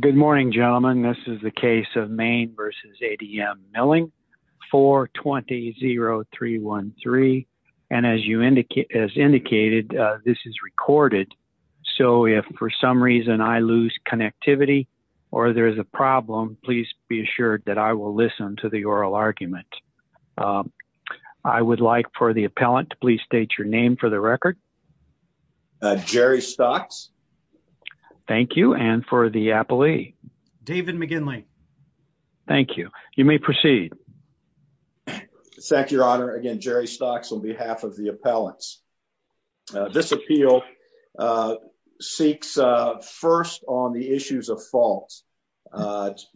Good morning, gentlemen. This is the case of Maine v. ADM Mining Co. 420-0313. And as you indicated, this is recorded. So if for some reason I lose connectivity or there is a problem, please be assured that I will listen to the oral argument. I would like for the appellant to please state your name for the record. Jerry Stocks. Thank you. And for the appellee? David McGinley. Thank you. You may proceed. Thank you, Your Honor. Again, Jerry Stocks on behalf of the appellants. This appeal seeks first on the issues of fault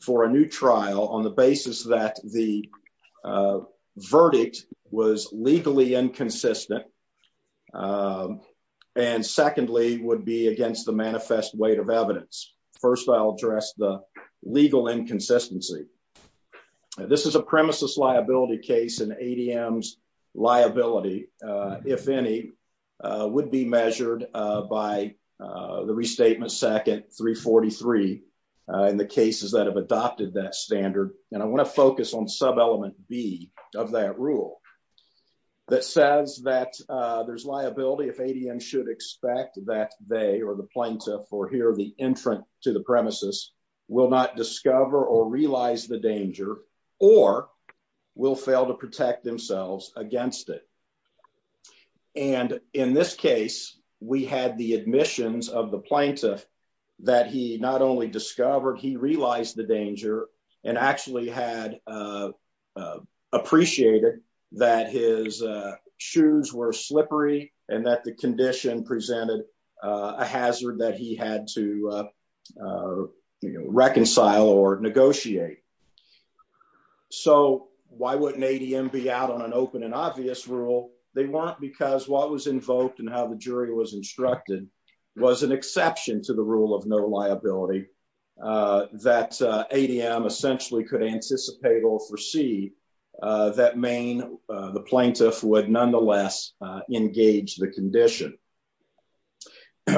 for a new trial on the basis that the manifest weight of evidence. First, I'll address the legal inconsistency. This is a premises liability case and ADM's liability, if any, would be measured by the Restatement Sec. 343 in the cases that have adopted that standard. And I want to focus on sub-element B of that rule that says that there's liability if ADM should expect that they or the plaintiff or here the entrant to the premises will not discover or realize the danger or will fail to protect themselves against it. And in this case, we had the admissions of the plaintiff that he not only discovered, he realized the danger and actually had appreciated that his condition presented a hazard that he had to reconcile or negotiate. So why wouldn't ADM be out on an open and obvious rule? They weren't because what was invoked and how the jury was instructed was an exception to the rule of no liability that ADM essentially could anticipate or foresee that the plaintiff would nonetheless engage the condition.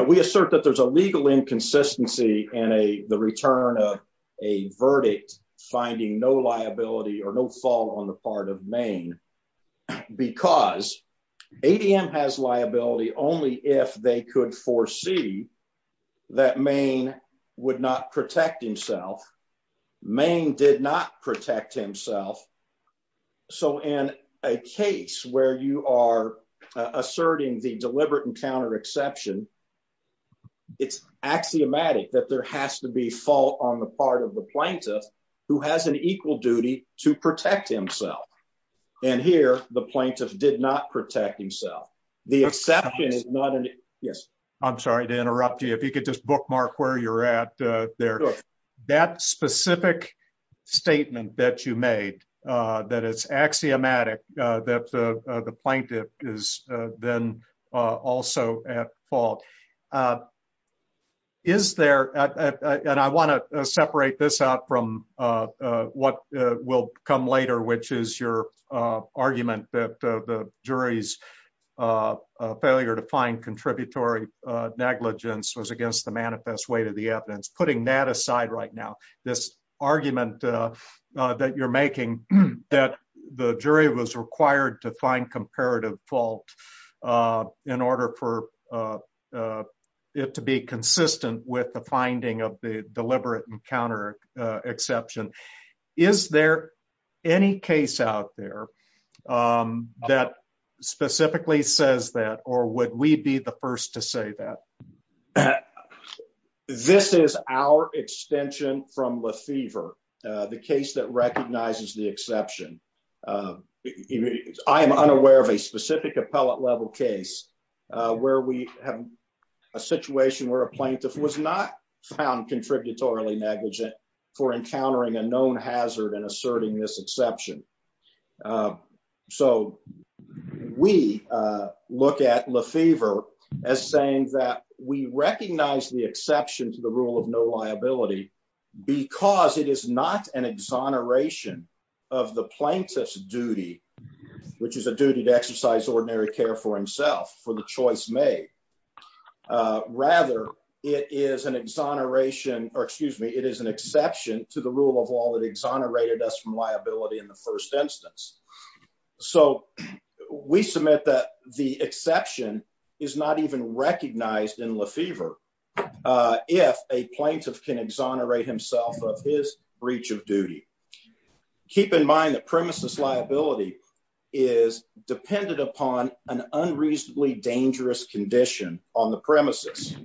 We assert that there's a legal inconsistency in the return of a verdict finding no liability or no fault on the part of Maine because ADM has liability only if they could foresee that Maine would not protect himself. Maine did not protect himself. So in a case where you are asserting the deliberate encounter exception, it's axiomatic that there has to be fault on the part of the plaintiff who has an equal duty to protect himself. And here, the plaintiff did not protect himself. The exception is not an... Yes. I'm sorry to interrupt you. If you could just bookmark where you're at there. That specific statement that you made, that it's axiomatic that the plaintiff is then also at fault. Is there... And I want to separate this out from what will come later, which is your argument that the jury's failure to find contributory negligence was against the manifest way to the evidence. Putting that aside right now, this argument that you're making that the jury was required to find comparative fault in order for it to be consistent with the finding of the deliberate encounter exception. Is there any case out there that specifically says that, or would we be the first to say that? This is our extension from Lefevre, the case that recognizes the exception. I am unaware of a specific appellate level case where we have a situation where a plaintiff was not found contributory negligent for encountering a known hazard and asserting this exception. So we look at Lefevre as saying that we recognize the exception to the rule of no liability because it is not an exoneration of the plaintiff's duty, which is a duty to exercise ordinary care for himself, for the choice made. Rather, it is an exoneration, or excuse me, it is exception to the rule of law that exonerated us from liability in the first instance. So we submit that the exception is not even recognized in Lefevre if a plaintiff can exonerate himself of his breach of duty. Keep in mind that premises liability is dependent upon an unreasonably dangerous condition on the premises.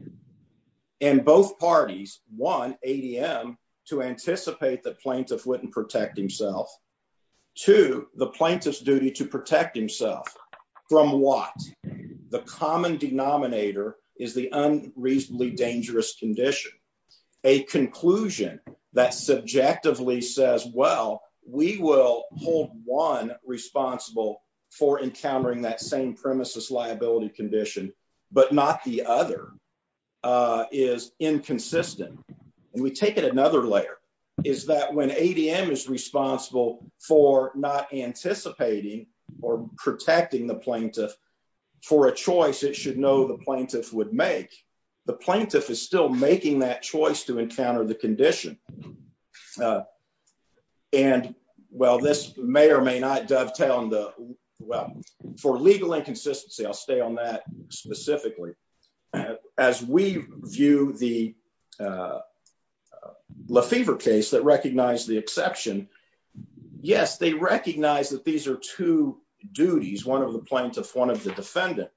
And both parties want ADM to anticipate the plaintiff wouldn't protect himself. Two, the plaintiff's duty to protect himself from what? The common denominator is the unreasonably dangerous condition. A conclusion that subjectively says, well, we will hold one responsible for encountering that same premises liability condition, but not the other, is inconsistent. And we take it another layer, is that when ADM is responsible for not anticipating or protecting the plaintiff for a choice it should know the plaintiff would make, the plaintiff is still making that choice to encounter the condition. And while this may or may not dovetail on the, well, for legal inconsistency, I'll stay on that specifically. As we view the Lefevre case that recognized the exception, yes, they recognize that these are two duties, one of the plaintiff, one of the defendant.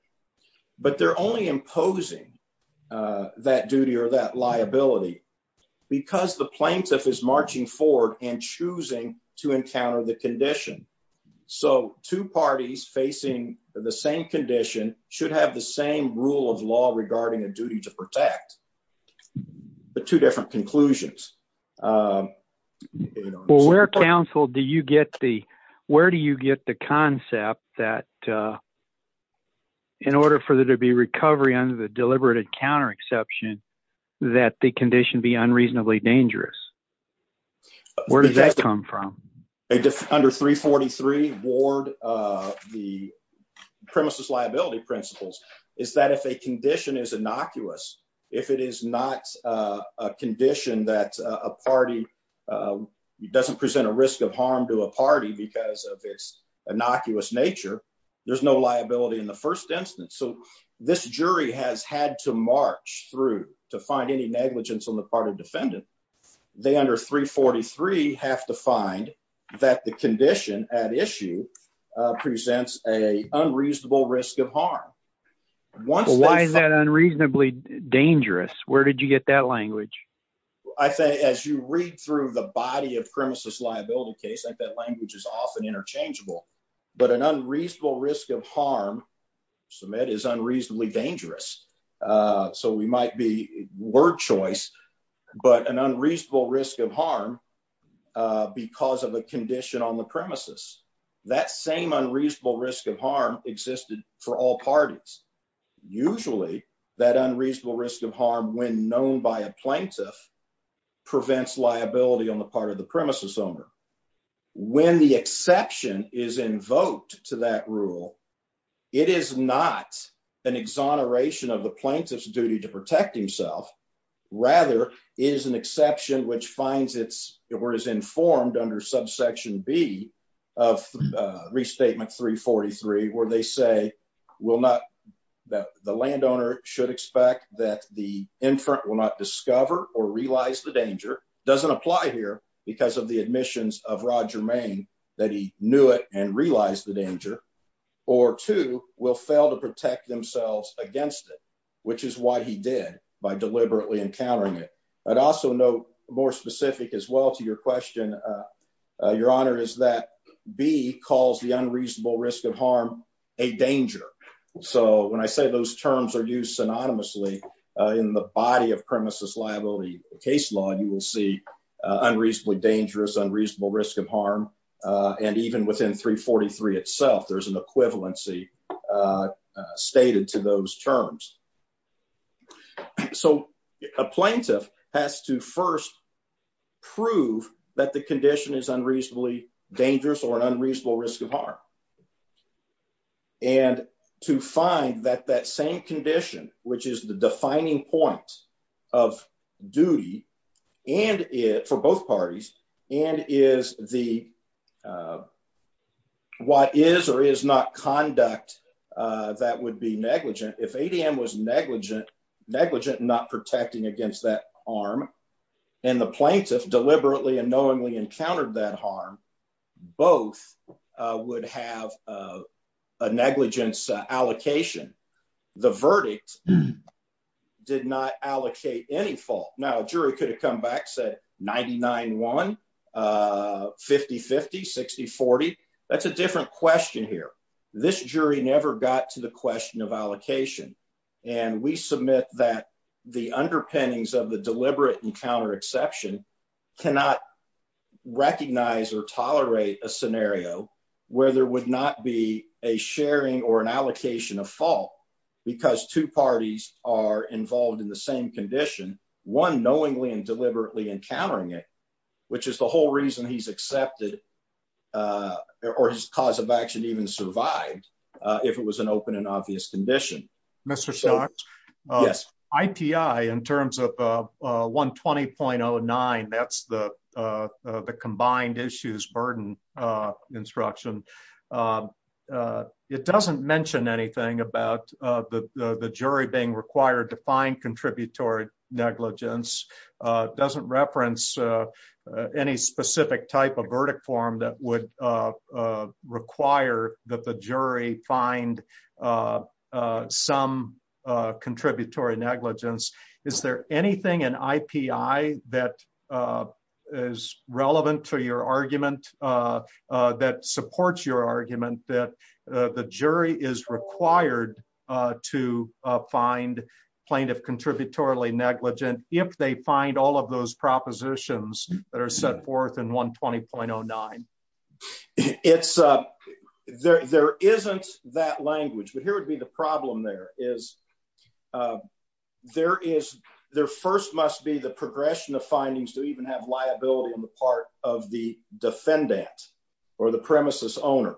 But they're only imposing that duty or that liability because the plaintiff is marching forward and choosing to encounter the condition. So two parties facing the same condition should have the same rule of law regarding a duty to protect, but two different conclusions. Well, where counsel do you get the, where do you get the concept that in order for there to be recovery under the deliberate encounter exception, that the condition be unreasonably dangerous? Where does that come from? Under 343 Ward, the premises liability principles, is that if a condition is innocuous, if it is not a condition that a party doesn't present a risk of harm to a party because of its innocuous nature, there's no liability in the first instance. So this jury has had to march through to find any negligence on the part of defendant. They under 343 have to find that the condition at issue presents a unreasonable risk of harm. Why is that unreasonably dangerous? Where did you get that language? I say, as you read through the body of premises liability case, like that language is often interchangeable, but an unreasonable risk of harm, so that is unreasonably dangerous. So we might be word choice, but an unreasonable risk of harm because of a condition on the premises, that same unreasonable risk of harm existed for all parties. Usually, that unreasonable risk of harm, when known by a plaintiff, prevents liability on the part of the premises owner. When the exception is invoked to that rule, it is not an exoneration of the plaintiff's duty to protect himself. Rather, it is an exception which finds its, or is informed under subsection B of restatement 343, where they say the landowner should expect that the inferent will not discover or realize the danger, doesn't apply here because of the admissions of Roger Maine, that he knew it and realized the danger, or two, will fail to protect themselves against it, which is why he did by deliberately encountering it. I'd also note more specific as well to your question, your honor, is that B calls the unreasonable risk of harm a danger. So when I say those terms are used synonymously in the body of premises liability case law, you will see unreasonably dangerous, unreasonable risk of harm, and even within 343 itself, there's an equivalency stated to those terms. So a plaintiff has to first prove that the condition is unreasonably dangerous or an unreasonable risk of harm. And to find that that same condition, which is the that would be negligent, if ADM was negligent, not protecting against that harm, and the plaintiff deliberately and knowingly encountered that harm, both would have a negligence allocation. The verdict did not allocate any fault. Now a jury could have come back said 99-1, 50-50, 60-40. That's a different question here. This jury never got to the question of allocation. And we submit that the underpinnings of the deliberate encounter exception cannot recognize or tolerate a scenario where there would not be a sharing or an allocation of fault, because two parties are involved in the same condition, one knowingly and deliberately encountering it, which is the whole reason he's accepted or his cause of action even survived, if it was an open and obvious condition. Mr. Stark, IPI in terms of 120.09, that's the combined issues burden instruction. It doesn't mention anything about the jury being required to find contributory negligence, doesn't reference any specific type of verdict form that would require that the jury find some contributory negligence. Is there anything in IPI that is relevant to your argument that supports your argument that the jury is required to find plaintiff contributorily negligent if they find all of those propositions that are set forth in 120.09? There isn't that language. But here would be the problem there is there first must be the progression of findings to even have liability on the part of the defendant or the premises owner.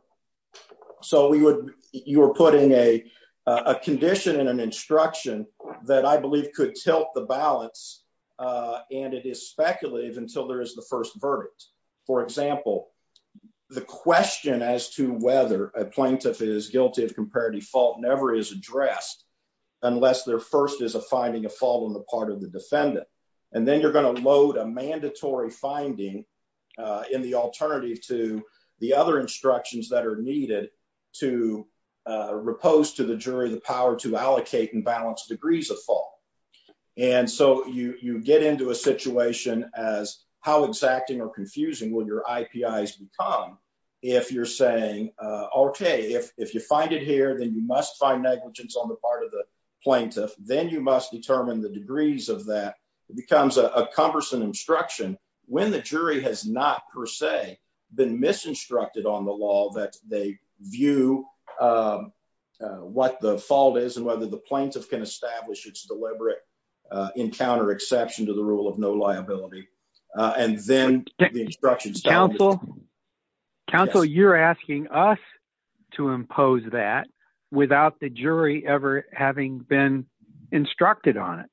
So you're putting a condition in an instruction that I believe could tilt the balance and it is speculative until there is the first verdict. For example, the question as to whether a plaintiff is guilty of comparative fault never is addressed unless there first is a finding of fault on the part of the defendant. And then you're going to load a mandatory finding in the alternative to the other instructions that are needed to repose to the jury the power to allocate and balance degrees of fault. And so you get into a situation as how exacting or confusing will your IPIs become if you're saying, okay, if you find it here, then you must find negligence on the part of the becomes a cumbersome instruction when the jury has not per se been misinstructed on the law that they view what the fault is and whether the plaintiff can establish its deliberate encounter exception to the rule of no liability. And then the instructions counsel. Counsel, you're asking us to impose that without the jury ever having been instructed on it.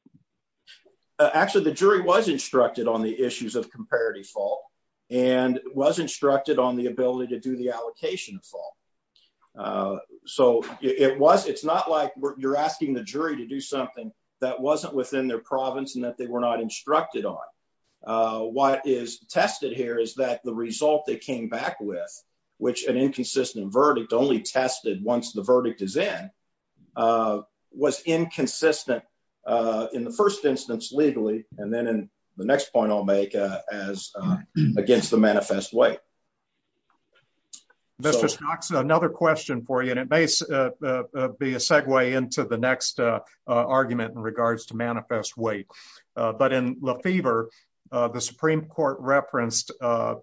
Actually, the jury was instructed on the issues of comparative fault and was instructed on the ability to do the allocation of fault. So it's not like you're asking the jury to do something that wasn't within their province and that they were not instructed on. What is tested here is that the result they came back with, which an inconsistent verdict only tested once the verdict is in, was inconsistent in the first instance legally. And then in the next point I'll make as against the manifest way. Mr. Stocks, another question for you, and it may be a segue into the next argument in regards to manifest weight. But in Lefevre, the Supreme Court referenced an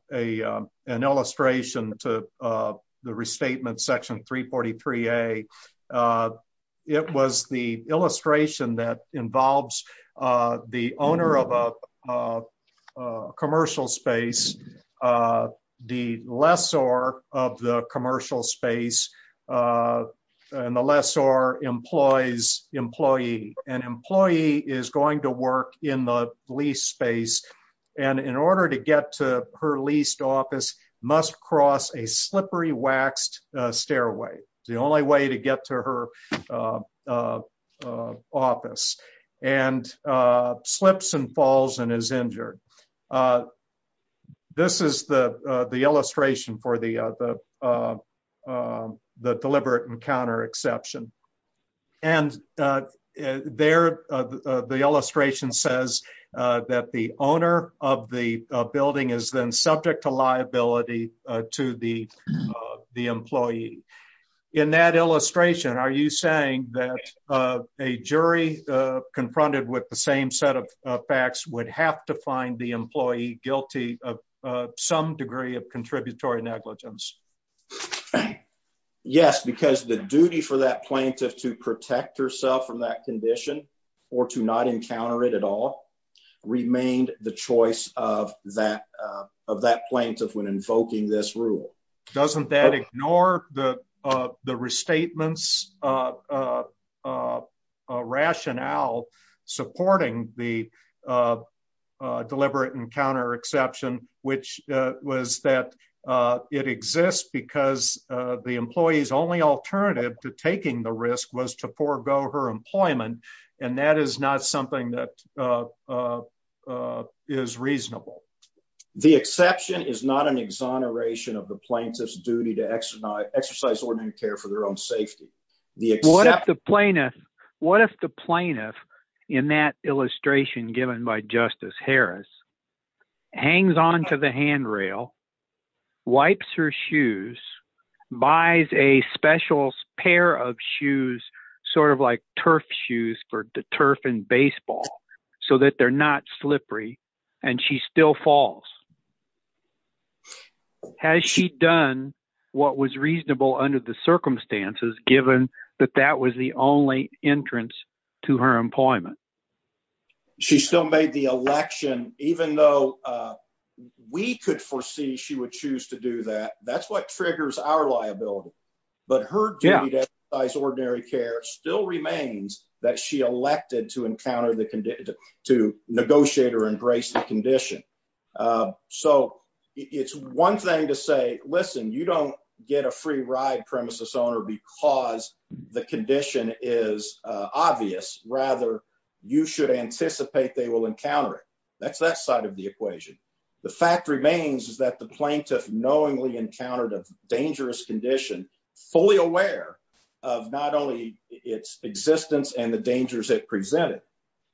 illustration to the restatement section 343A. It was the illustration that involves the owner of a commercial space, the lessor of the commercial space, and the lessor employs employee. And employee is going to work in the lease space. And in order to get to her leased office, must cross a slippery waxed stairway. It's the only way to get to her office. And slips and falls and is injured. This is the illustration for the deliberate encounter exception. And there the illustration says that the owner of the building is then subject to liability to the employee. In that illustration, are you saying that a jury confronted with the same set of facts would have to find the employee guilty of some degree of contributory negligence? Yes, because the duty for that plaintiff to protect herself from that condition or to not encounter it at all remained the choice of that plaintiff when invoking this rule. Doesn't that ignore the restatements rationale supporting the deliberate encounter exception, which was that it exists because the employee's only alternative to taking the risk was to forego her employment. And that is not something that is reasonable. The exception is not an exoneration of the plaintiff's duty to exercise ordinary care for their own safety. What if the plaintiff in that illustration given by Justice Harris hangs on to the handrail, wipes her shoes, buys a special pair of shoes, sort of like turf shoes for turf and baseball, so that they're not slippery and she still falls. Has she done what was reasonable under the circumstances given that that was the only entrance to her employment? She still made the election, even though we could foresee she would choose to do that. That's what triggers our liability. But her duty to exercise ordinary care still remains that she elected to negotiate or embrace the condition. So it's one thing to say, listen, you don't get a free ride premises owner because the condition is obvious. Rather, you should anticipate they will encounter it. That's that side of the equation. The fact remains is that the plaintiff knowingly encountered a dangerous condition, fully aware of not only its existence and the dangers it presented,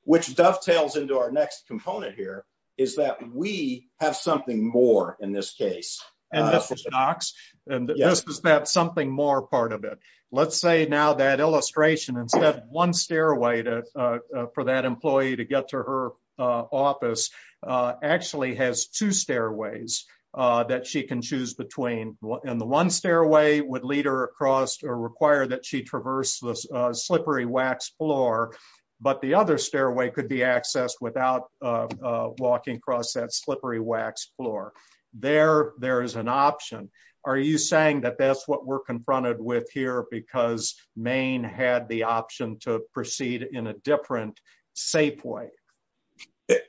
which dovetails into our next component here is that we have something more in this case. And this is that something more part of it. Let's say now that illustration instead of one stairway for that employee to get to her office actually has two stairways that she can choose between. And the one stairway would lead her across or require that she traverse this slippery wax floor. But the other stairway could be accessed without walking across that slippery wax floor there. There is an option. Are you saying that that's what we're confronted with here? Because Maine had the option to proceed in a different safe way?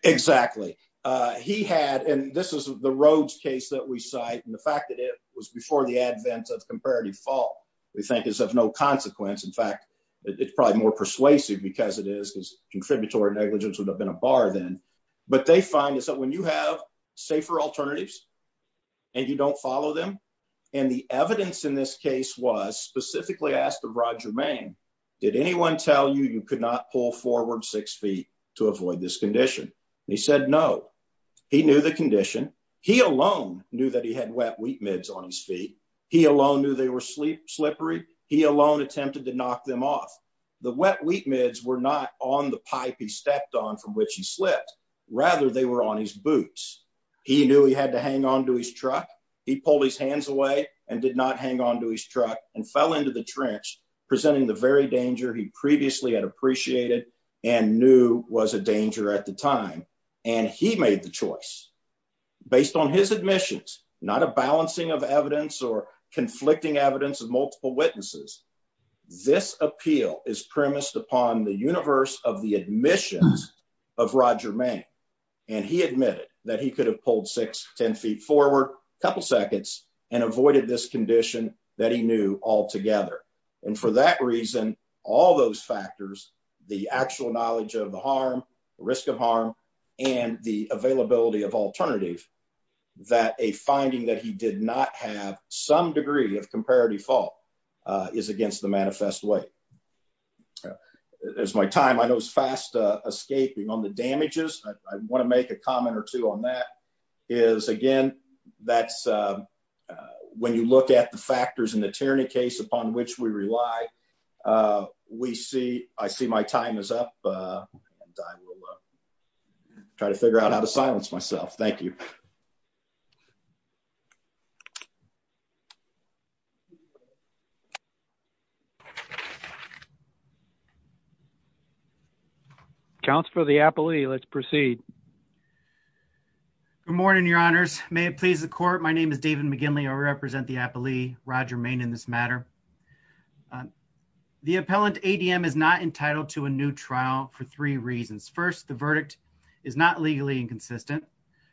Exactly. He had and this is the Rhodes case that we cite. And the fact that it was before the advent of comparative fault, we think is of no consequence. In fact, it's probably more persuasive because it is because contributory negligence would have been a bar then. But they find is when you have safer alternatives and you don't follow them. And the evidence in this case was specifically asked of Roger Maine. Did anyone tell you you could not pull forward six feet to avoid this condition? He said no. He knew the condition. He alone knew that he had wet wheat mids on his feet. He alone knew they were slippery. He alone attempted to knock them off. The wet wheat mids were not on the pipe he stepped on from which he slipped. Rather, they were on his boots. He knew he had to hang on to his truck. He pulled his hands away and did not hang on to his truck and fell into the trench, presenting the very danger he previously had appreciated and knew was a danger at the time. And he made the choice based on his admissions, not a balancing of is premised upon the universe of the admissions of Roger Maine. And he admitted that he could have pulled six, 10 feet forward, a couple seconds, and avoided this condition that he knew altogether. And for that reason, all those factors, the actual knowledge of the harm, risk of harm, and the availability of alternative, that a finding that he did not have some degree of manifest way. There's my time. I know it's fast escaping on the damages. I want to make a comment or two on that is again, that's when you look at the factors in the tyranny case upon which we rely, we see, I see my time is up and I will try to figure out how to silence myself. Thank you. Council for the appellee. Let's proceed. Good morning, your honors. May it please the court. My name is David McGinley. I represent the appellee Roger Maine in this matter. The appellant ADM is not entitled to a new trial for three reasons. First, the verdict is not legally inconsistent.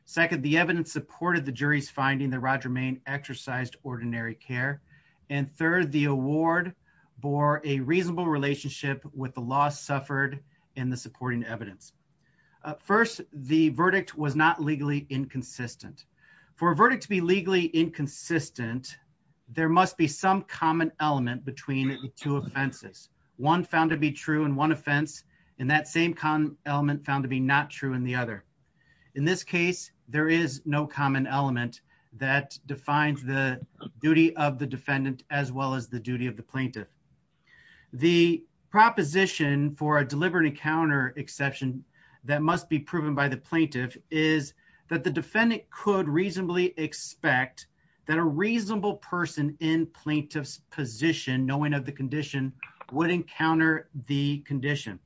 Second, the evidence supported the jury's finding that Roger Maine exercised ordinary care. And third, the award bore a reasonable relationship with the loss suffered in the supporting evidence. First, the verdict was not legally inconsistent for a verdict to be legally inconsistent. There must be some common element between the two offenses. One found to be true in one offense. And that same con element found to be not true in the other. In this case, there is no common element that defines the duty of the defendant as well as the duty of the plaintiff. The proposition for a deliberate encounter exception that must be proven by the plaintiff is that the defendant could reasonably expect that a reasonable person in plaintiff's position, knowing of the condition would encounter the condition.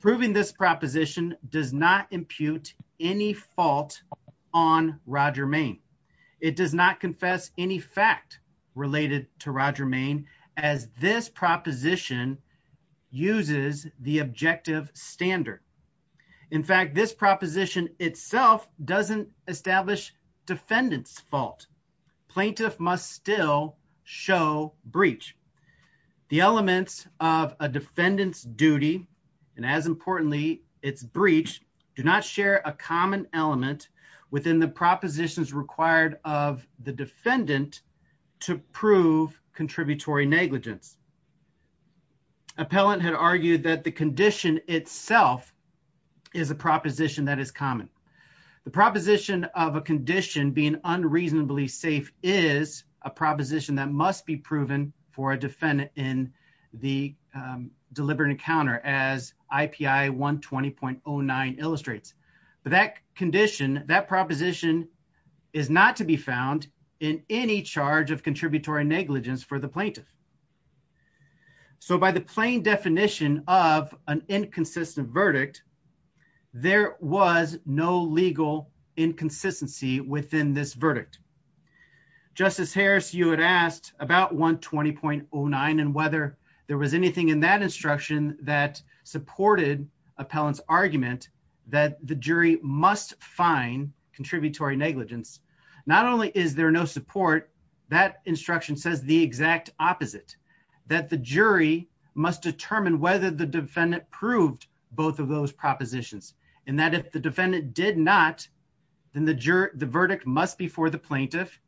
Proving this proposition does not It does not confess any fact related to Roger Maine, as this proposition uses the objective standard. In fact, this proposition itself doesn't establish defendant's fault. Plaintiff must still show breach. The elements of a defendant's duty, and as importantly, its breach do not share a common element within the propositions required of the defendant to prove contributory negligence. Appellant had argued that the condition itself is a proposition that is common. The proposition of a condition being unreasonably safe is a 20.09 illustrates that condition that proposition is not to be found in any charge of contributory negligence for the plaintiff. So by the plain definition of an inconsistent verdict, there was no legal inconsistency within this verdict. Justice Harris, you had asked about 120.09 and whether there was anything in that instruction that supported appellant's argument that the jury must find contributory negligence. Not only is there no support, that instruction says the exact opposite, that the jury must determine whether the defendant proved both of those propositions and that if the defendant did not, then the verdict must be for the plaintiff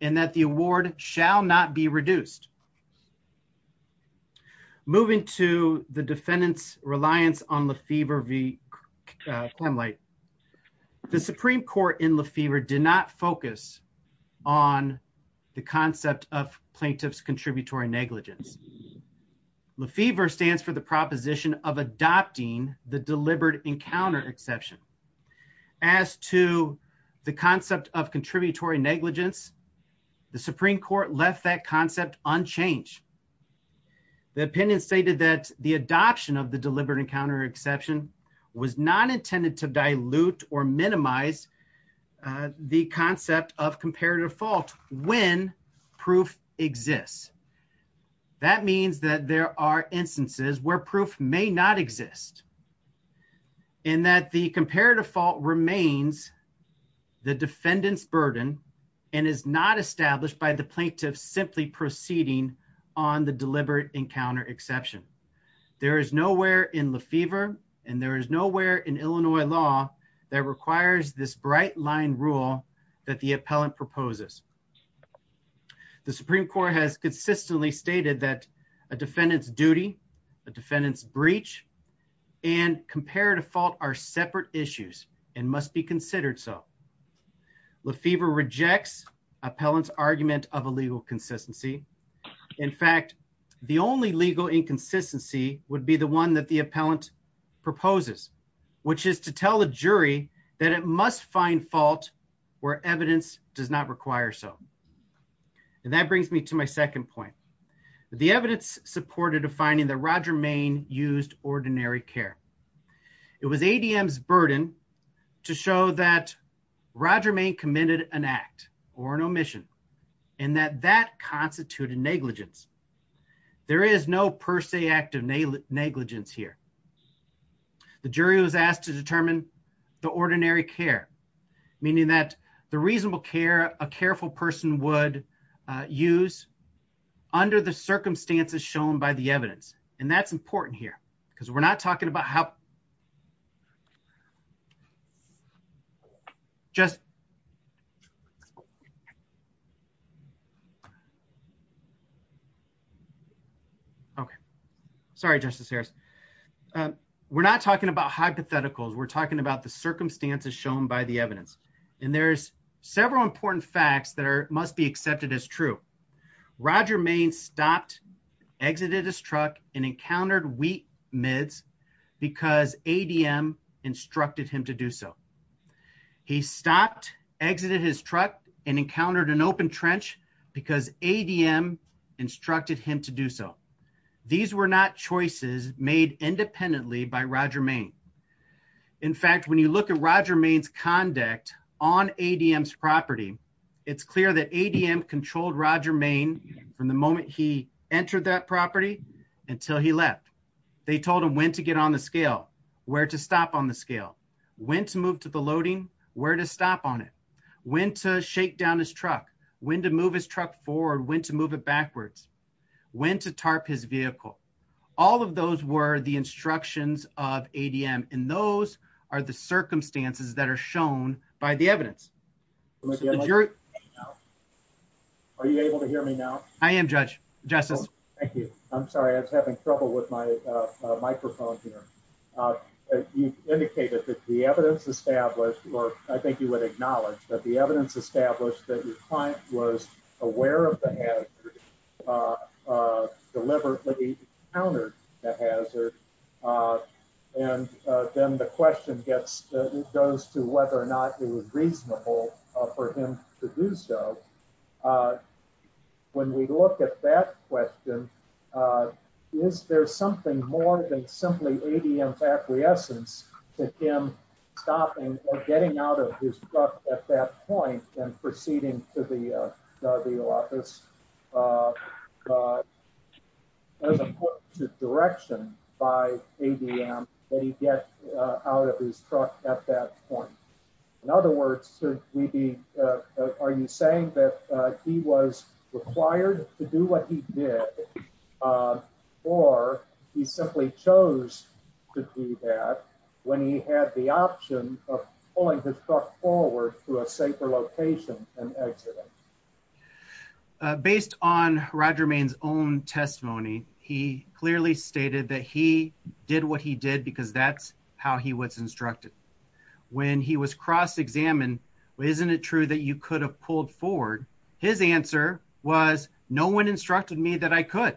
and that the award shall not be reduced. Moving to the defendant's reliance on Lefebvre v. Klemlite, the Supreme Court in Lefebvre did not focus on the concept of plaintiff's contributory negligence. Lefebvre stands for the proposition of adopting the deliberate encounter exception. As to the concept of contributory negligence, the Supreme Court left that concept unchanged. The opinion stated that the adoption of the deliberate encounter exception was not intended to dilute or minimize the concept of comparative fault when proof exists. That means that there are instances where proof may not exist and that the comparative fault remains the defendant's burden and is not established by the plaintiff simply proceeding on the deliberate encounter exception. There is nowhere in Lefebvre and there is nowhere in Illinois law that requires this bright line rule that the appellant proposes. The Supreme Court has consistently stated that a defendant's duty, a defendant's breach, and comparative fault are separate issues and must be considered so. Lefebvre rejects appellant's argument of a legal consistency. In fact, the only legal inconsistency would be the one that the appellant proposes, which is to tell the jury that it must find fault where evidence does not require so. And that brings me to my second point. The evidence supported a finding that Roger Main used ordinary care. It was ADM's burden to show that Roger Main committed an act or an omission and that that constituted negligence. There is no per se act of negligence here. The jury was asked to determine the ordinary care, meaning that the reasonable care a careful person would use under the circumstances shown by the evidence. And that's important here because we're not talking about how... Okay. Sorry, Justice Harris. We're not talking about hypotheticals. We're talking about the evidence. And there's several important facts that must be accepted as true. Roger Main stopped, exited his truck, and encountered wheat mids because ADM instructed him to do so. He stopped, exited his truck, and encountered an open trench because ADM instructed him to do so. These were not choices made independently by Roger Main. In fact, when you look at Roger Main's conduct on ADM's property, it's clear that ADM controlled Roger Main from the moment he entered that property until he left. They told him when to get on the scale, where to stop on the scale, when to move to the loading, where to stop on it, when to shake down his truck, when to move his truck forward, when to move it backwards, when to tarp his vehicle. All of those were the instructions of ADM. And those are the circumstances that are shown by the evidence. Are you able to hear me now? I am, Judge. Justice. Thank you. I'm sorry. I was having trouble with my microphone here. You indicated that the evidence established, or I think you would acknowledge, that the evidence established that your client was aware of the hazard, deliberately encountered the hazard. And then the question goes to whether or not it was reasonable for him to do so. When we look at that question, is there something more than simply ADM's acquiescence to him stopping or getting out of his truck at that point and proceeding to the office? There's a direction by ADM that he get out of his truck at that point. In other words, are you saying that he was required to do what he did or he simply chose to do that when he had the option of pulling his truck forward to a safer location and exiting? Based on Roger Main's own testimony, he clearly stated that he did what he did because that's how he was instructed. When he was cross-examined, well, isn't it true that you could have pulled forward? His answer was, no one instructed me that I could.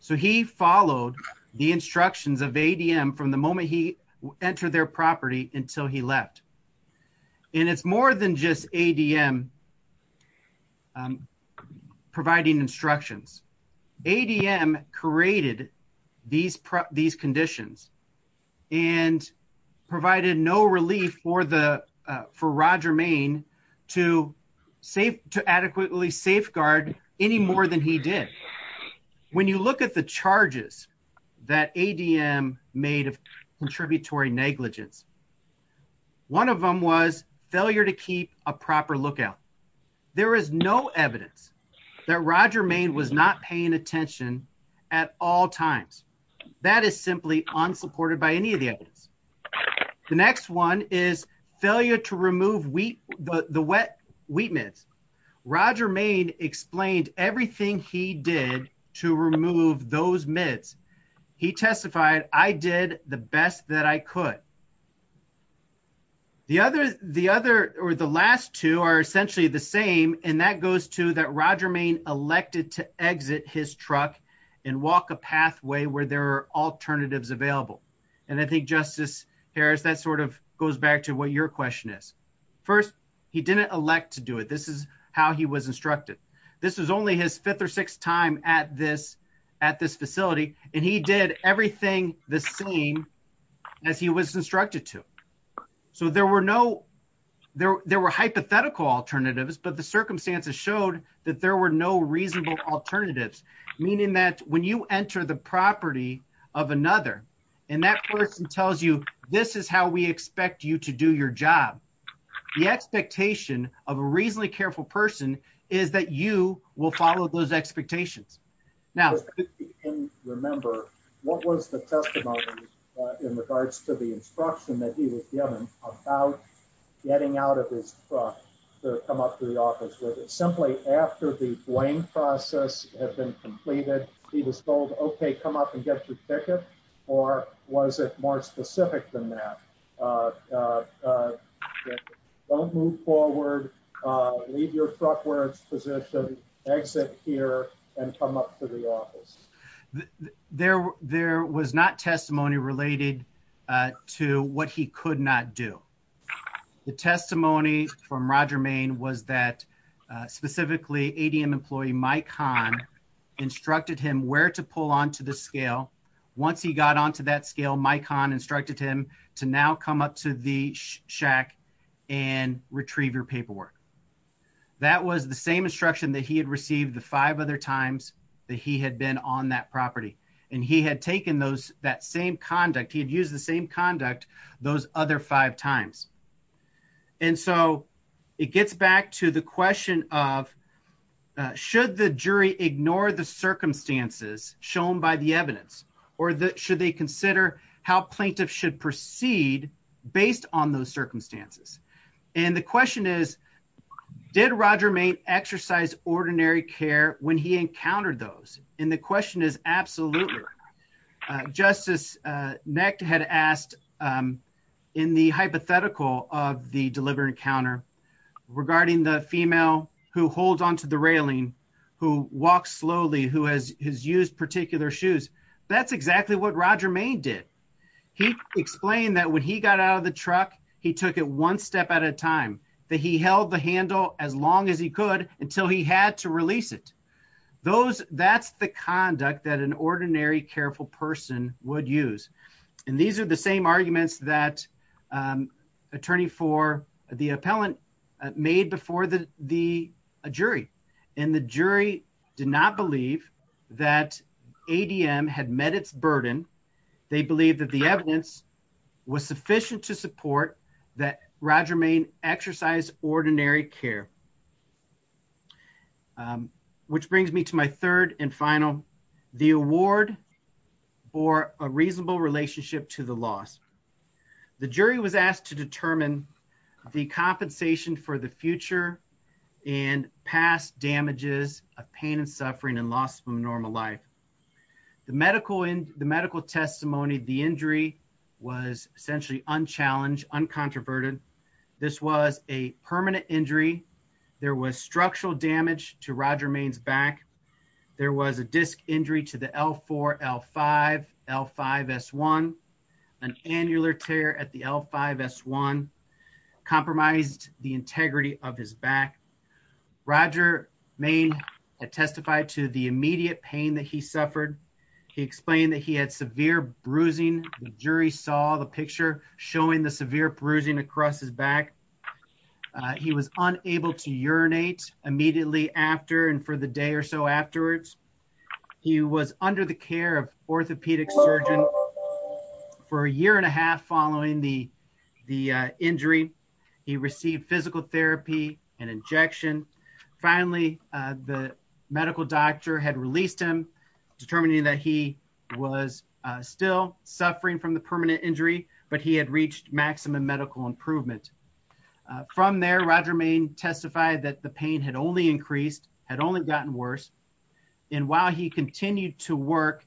So he followed the instructions of ADM from the moment he entered their property until he left. And it's more than just ADM providing instructions. ADM created these conditions and provided no relief for Roger Main to adequately safeguard any more than he did. When you look at the charges that ADM made of contributory negligence, one of them was failure to keep a proper lookout. There is no evidence that Roger Main was not paying attention at all times. That is simply unsupported by any of the evidence. The next one is failure to remove the wet wheat mids. Roger Main explained everything he did to remove those mids. He testified, I did the best that I could. That goes to that Roger Main elected to exit his truck and walk a pathway where there are alternatives available. And I think, Justice Harris, that sort of goes back to what your question is. First, he didn't elect to do it. This is how he was instructed. This was only his fifth or sixth time at this facility. And he did everything the same as he was instructed to. So there were no, there were hypothetical alternatives, but the circumstances showed that there were no reasonable alternatives. Meaning that when you enter the property of another, and that person tells you, this is how we expect you to do your job. The expectation of a reasonably careful person is that you will follow those expectations. Now, remember, what was the testimony in regards to the instruction that he was given about getting out of his truck to come up to the office with it? Simply after the blame process had been completed, he was told, okay, come up and get your ticket. Or was it more specific than that? That don't move forward, leave your truck where it's positioned, exit here, and come up to the office. There was not testimony related to what he could not do. The testimony from Roger Main was that specifically ADM employee, Mike Hahn, instructed him where to pull onto the scale. Once he got onto that scale, Mike Hahn instructed him to now come up to the shack and retrieve your paperwork. That was the same instruction that he had received the five other times that he had been on that property. And he had taken those, that same conduct, he had used the same conduct those other five times. And so it gets back to the question of, should the jury ignore the circumstances shown by the seed based on those circumstances? And the question is, did Roger Main exercise ordinary care when he encountered those? And the question is absolutely. Justice Necht had asked in the hypothetical of the delivery encounter regarding the female who holds onto the railing, who walks when he got out of the truck, he took it one step at a time, that he held the handle as long as he could until he had to release it. That's the conduct that an ordinary careful person would use. And these are the same arguments that attorney for the appellant made before the jury. And the jury did not believe that ADM had met its burden. They believe that the evidence was sufficient to support that Roger Main exercise ordinary care. Which brings me to my third and final, the award or a reasonable relationship to the loss. The jury was asked to determine the compensation for the future and past damages of pain and suffering and loss from normal life. The medical testimony, the injury was essentially unchallenged, uncontroverted. This was a permanent injury. There was structural damage to Roger Main's back. There was a disc injury to the L4, L5, L5, S1. An annular tear at the L5, S1 compromised the integrity of his back. Roger Main testified to the immediate pain that he suffered. He explained that he had severe bruising. The jury saw the picture showing the severe bruising across his back. He was unable to urinate immediately after and for the day or so afterwards. He was under the care of orthopedic surgeon for a year and a half following the injury. He received physical therapy and injection. Finally, the medical doctor had released him determining that he was still suffering from the permanent injury, but he reached maximum medical improvement. From there, Roger Main testified that the pain had only increased, had only gotten worse. While he continued to work,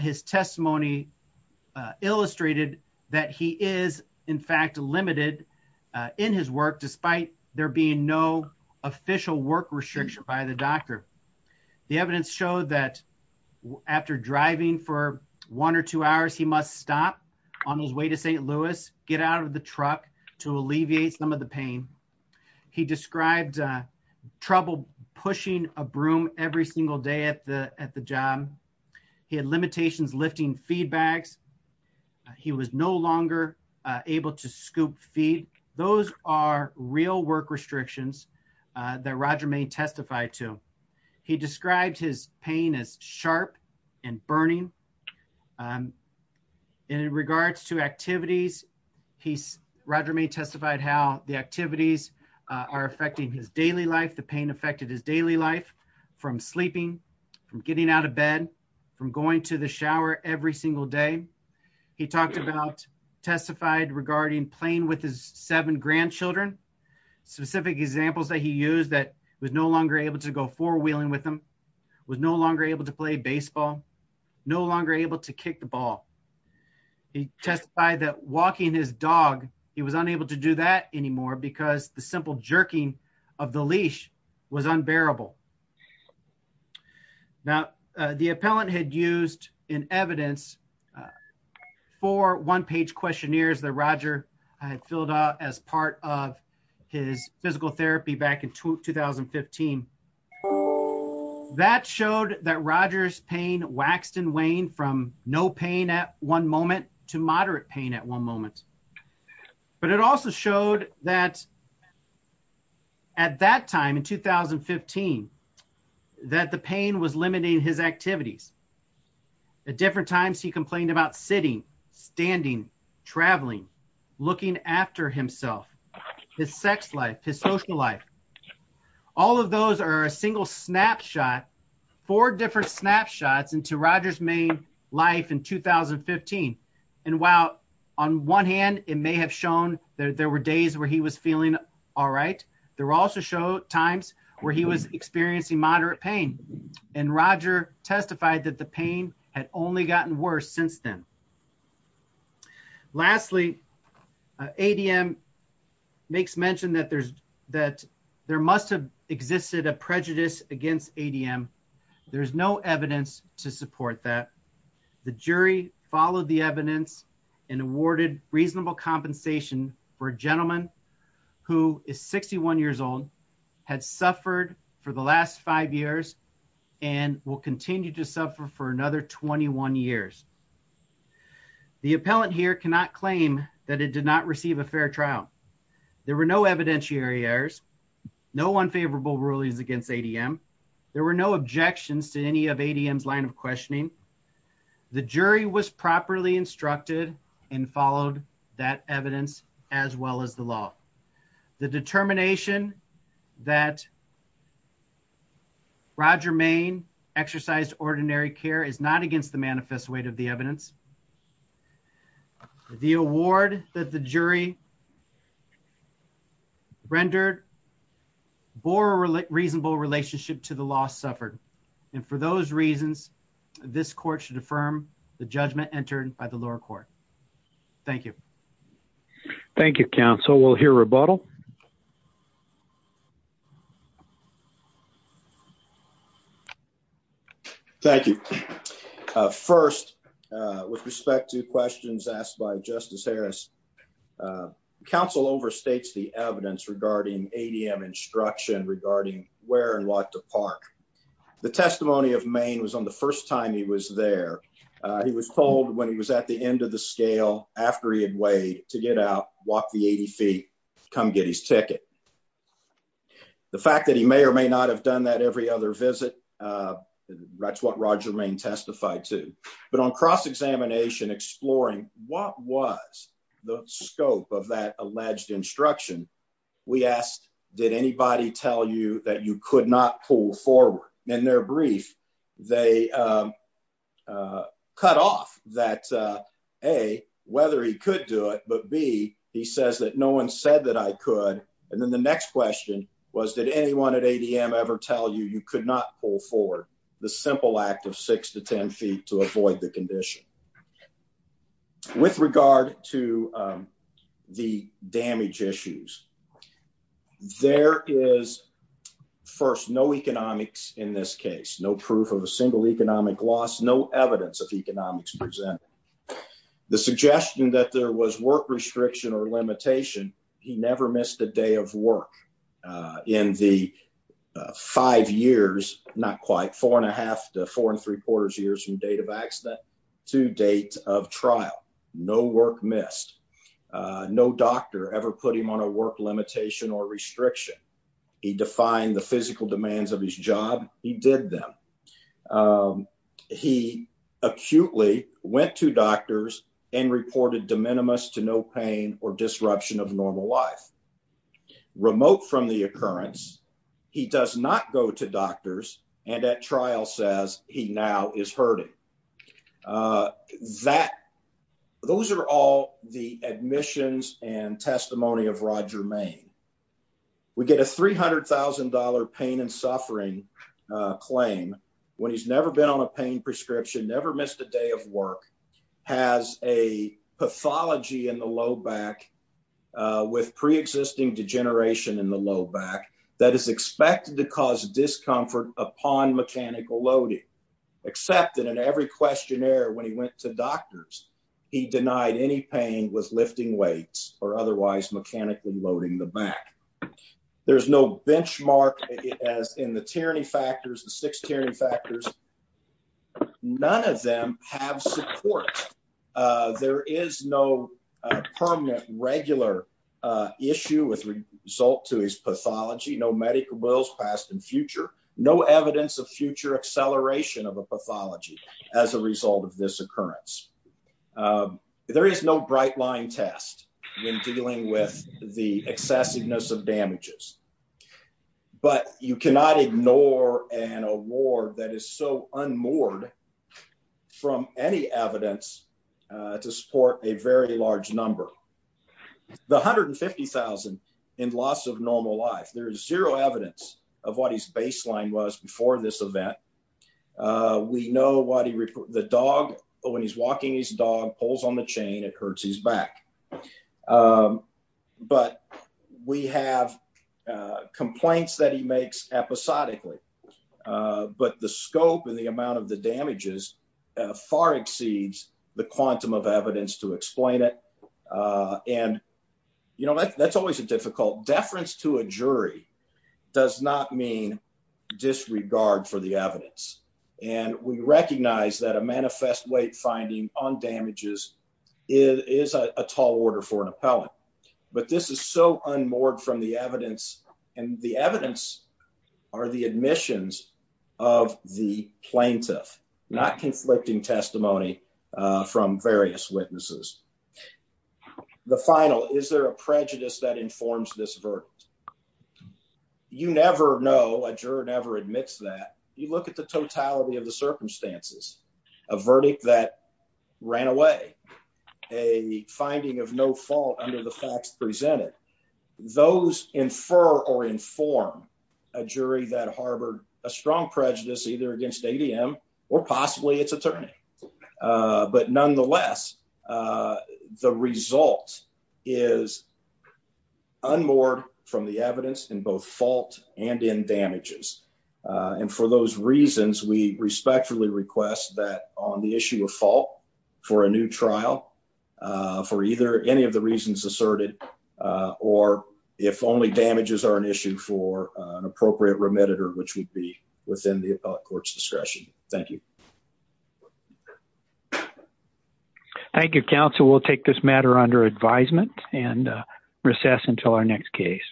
his testimony illustrated that he is in fact limited in his work despite there being no official work restriction by the doctor. The evidence showed that after driving for one or two hours, he must stop on his way to St. Louis, get out of the truck to alleviate some of the pain. He described trouble pushing a broom every single day at the job. He had limitations lifting feed bags. He was no longer able to scoop feed. Those are real work restrictions that Roger Main testified to. He described his pain as sharp and burning. In regards to activities, Roger Main testified how the activities are affecting his daily life. The pain affected his daily life from sleeping, from getting out of bed, from going to the shower every single day. He talked about, testified regarding playing with his seven grandchildren. Specific examples that he used that he was no longer able to play baseball, no longer able to kick the ball. He testified that walking his dog, he was unable to do that anymore because the simple jerking of the leash was unbearable. Now, the appellant had used in evidence four one-page questionnaires that Roger had filled out as part of his physical therapy back in 2015. That showed that Roger's pain waxed and waned from no pain at one moment to moderate pain at one moment. But it also showed that at that time in 2015, that the pain was limiting his activities. At different times, he complained about sitting, standing, traveling, looking after himself, his sex life, his social life. All of those are a single snapshot, four different snapshots into Roger's main life in 2015. And while on one hand, it may have shown that there were days where he was feeling all right, there also showed times where he was experiencing moderate pain. And Roger testified that the pain had only gotten worse since then. Lastly, ADM makes mention that there must have existed a prejudice against ADM. There's no evidence to support that. The jury followed the evidence and awarded reasonable compensation for a gentleman who is 61 years old, had suffered for the last five years, and will continue to suffer for another 21 years. The appellant here cannot claim that it did not receive a fair trial. There were no evidentiary errors, no unfavorable rulings against ADM. There were no objections to any of ADM's line of questioning. The jury was properly instructed and followed that evidence as well as the law. The determination that Roger Maine exercised ordinary care is not against the manifest weight of the evidence. The award that the jury rendered bore a reasonable relationship to the loss suffered. And for those reasons, this court should affirm the judgment entered by the lower court. Thank you. Thank you, counsel. We'll hear rebuttal. Thank you. First, with respect to questions asked by Justice Harris, counsel overstates the evidence regarding ADM instruction regarding where and what to park. The testimony of Maine was on the first time he was there. He was told when he was at the end of the scale after he had weighed to get out, walk the 80 feet, come get his ticket. The fact that he may or may not have done that every other visit, that's what Roger Maine testified to. But on cross-examination, exploring what was the scope of that alleged instruction, we asked, did anybody tell you that you could not pull forward? In their brief, they cut off that, A, whether he could do it, but B, he says that no one said that I could. And then the next question was, did anyone at ADM ever tell you you could not pull forward the simple act of six to 10 feet to avoid the condition? With regard to the damage issues, there is, first, no economics in this case, no proof of a single economic loss, no evidence of economics presented. The suggestion that there was work restriction or limitation, he never missed a day of work in the five years, not quite, four and a half to four and three quarters years from date of accident to date of trial. No work missed. No doctor ever put him on a work limitation or restriction. He defined the physical demands of his job. He did them. He acutely went to doctors and reported de minimis to no pain or disruption of normal life. Remote from the occurrence, he does not go to doctors, and at trial says he now is hurting. That, those are all the admissions and testimony of Roger Maine. We get a $300,000 pain and suffering claim when he's never been on a pain prescription, never missed a day of work, has a pathology in the low back with pre-existing degeneration in the low back that is expected to cause discomfort upon mechanical loading, except that in every questionnaire when he went to doctors, he denied any pain with lifting weights or otherwise mechanically loading the back. There's no benchmark as in the tyranny factors, the six tyranny factors, none of them have support. There is no permanent regular issue with result to his pathology, no medical bills passed in future, no evidence of future acceleration of a pathology as a result of this occurrence. There is no bright line test when dealing with the excessiveness of damages, but you cannot ignore an award that is so unmoored from any evidence to support a very large number. The $150,000 in loss of normal life, there is zero evidence of what his baseline was before this when he's walking his dog, pulls on the chain, it hurts his back. But we have complaints that he makes episodically, but the scope and the amount of the damages far exceeds the quantum of evidence to explain it. That's always a difficult, deference to a jury does not mean disregard for the evidence. We recognize that a manifest weight finding on damages is a tall order for an appellant, but this is so unmoored from the evidence and the evidence are the admissions of the plaintiff, not conflicting testimony from various witnesses. The final, is there a prejudice that informs this verdict? You never know, a juror never admits that. You look at the totality of the circumstances, a verdict that ran away, a finding of no fault under the facts presented, those infer or inform a jury that harbored a strong prejudice either against ADM or possibly its attorney. But nonetheless, the result is unmoored from the evidence in both fault and in damages. And for those reasons, we respectfully request that on the issue of fault for a new trial, for either any of the reasons asserted, or if only damages are an issue for an appropriate remediator, which would be within the appellate court's discretion. Thank you. Thank you, counsel. We'll take this matter under advisement and recess until our next case.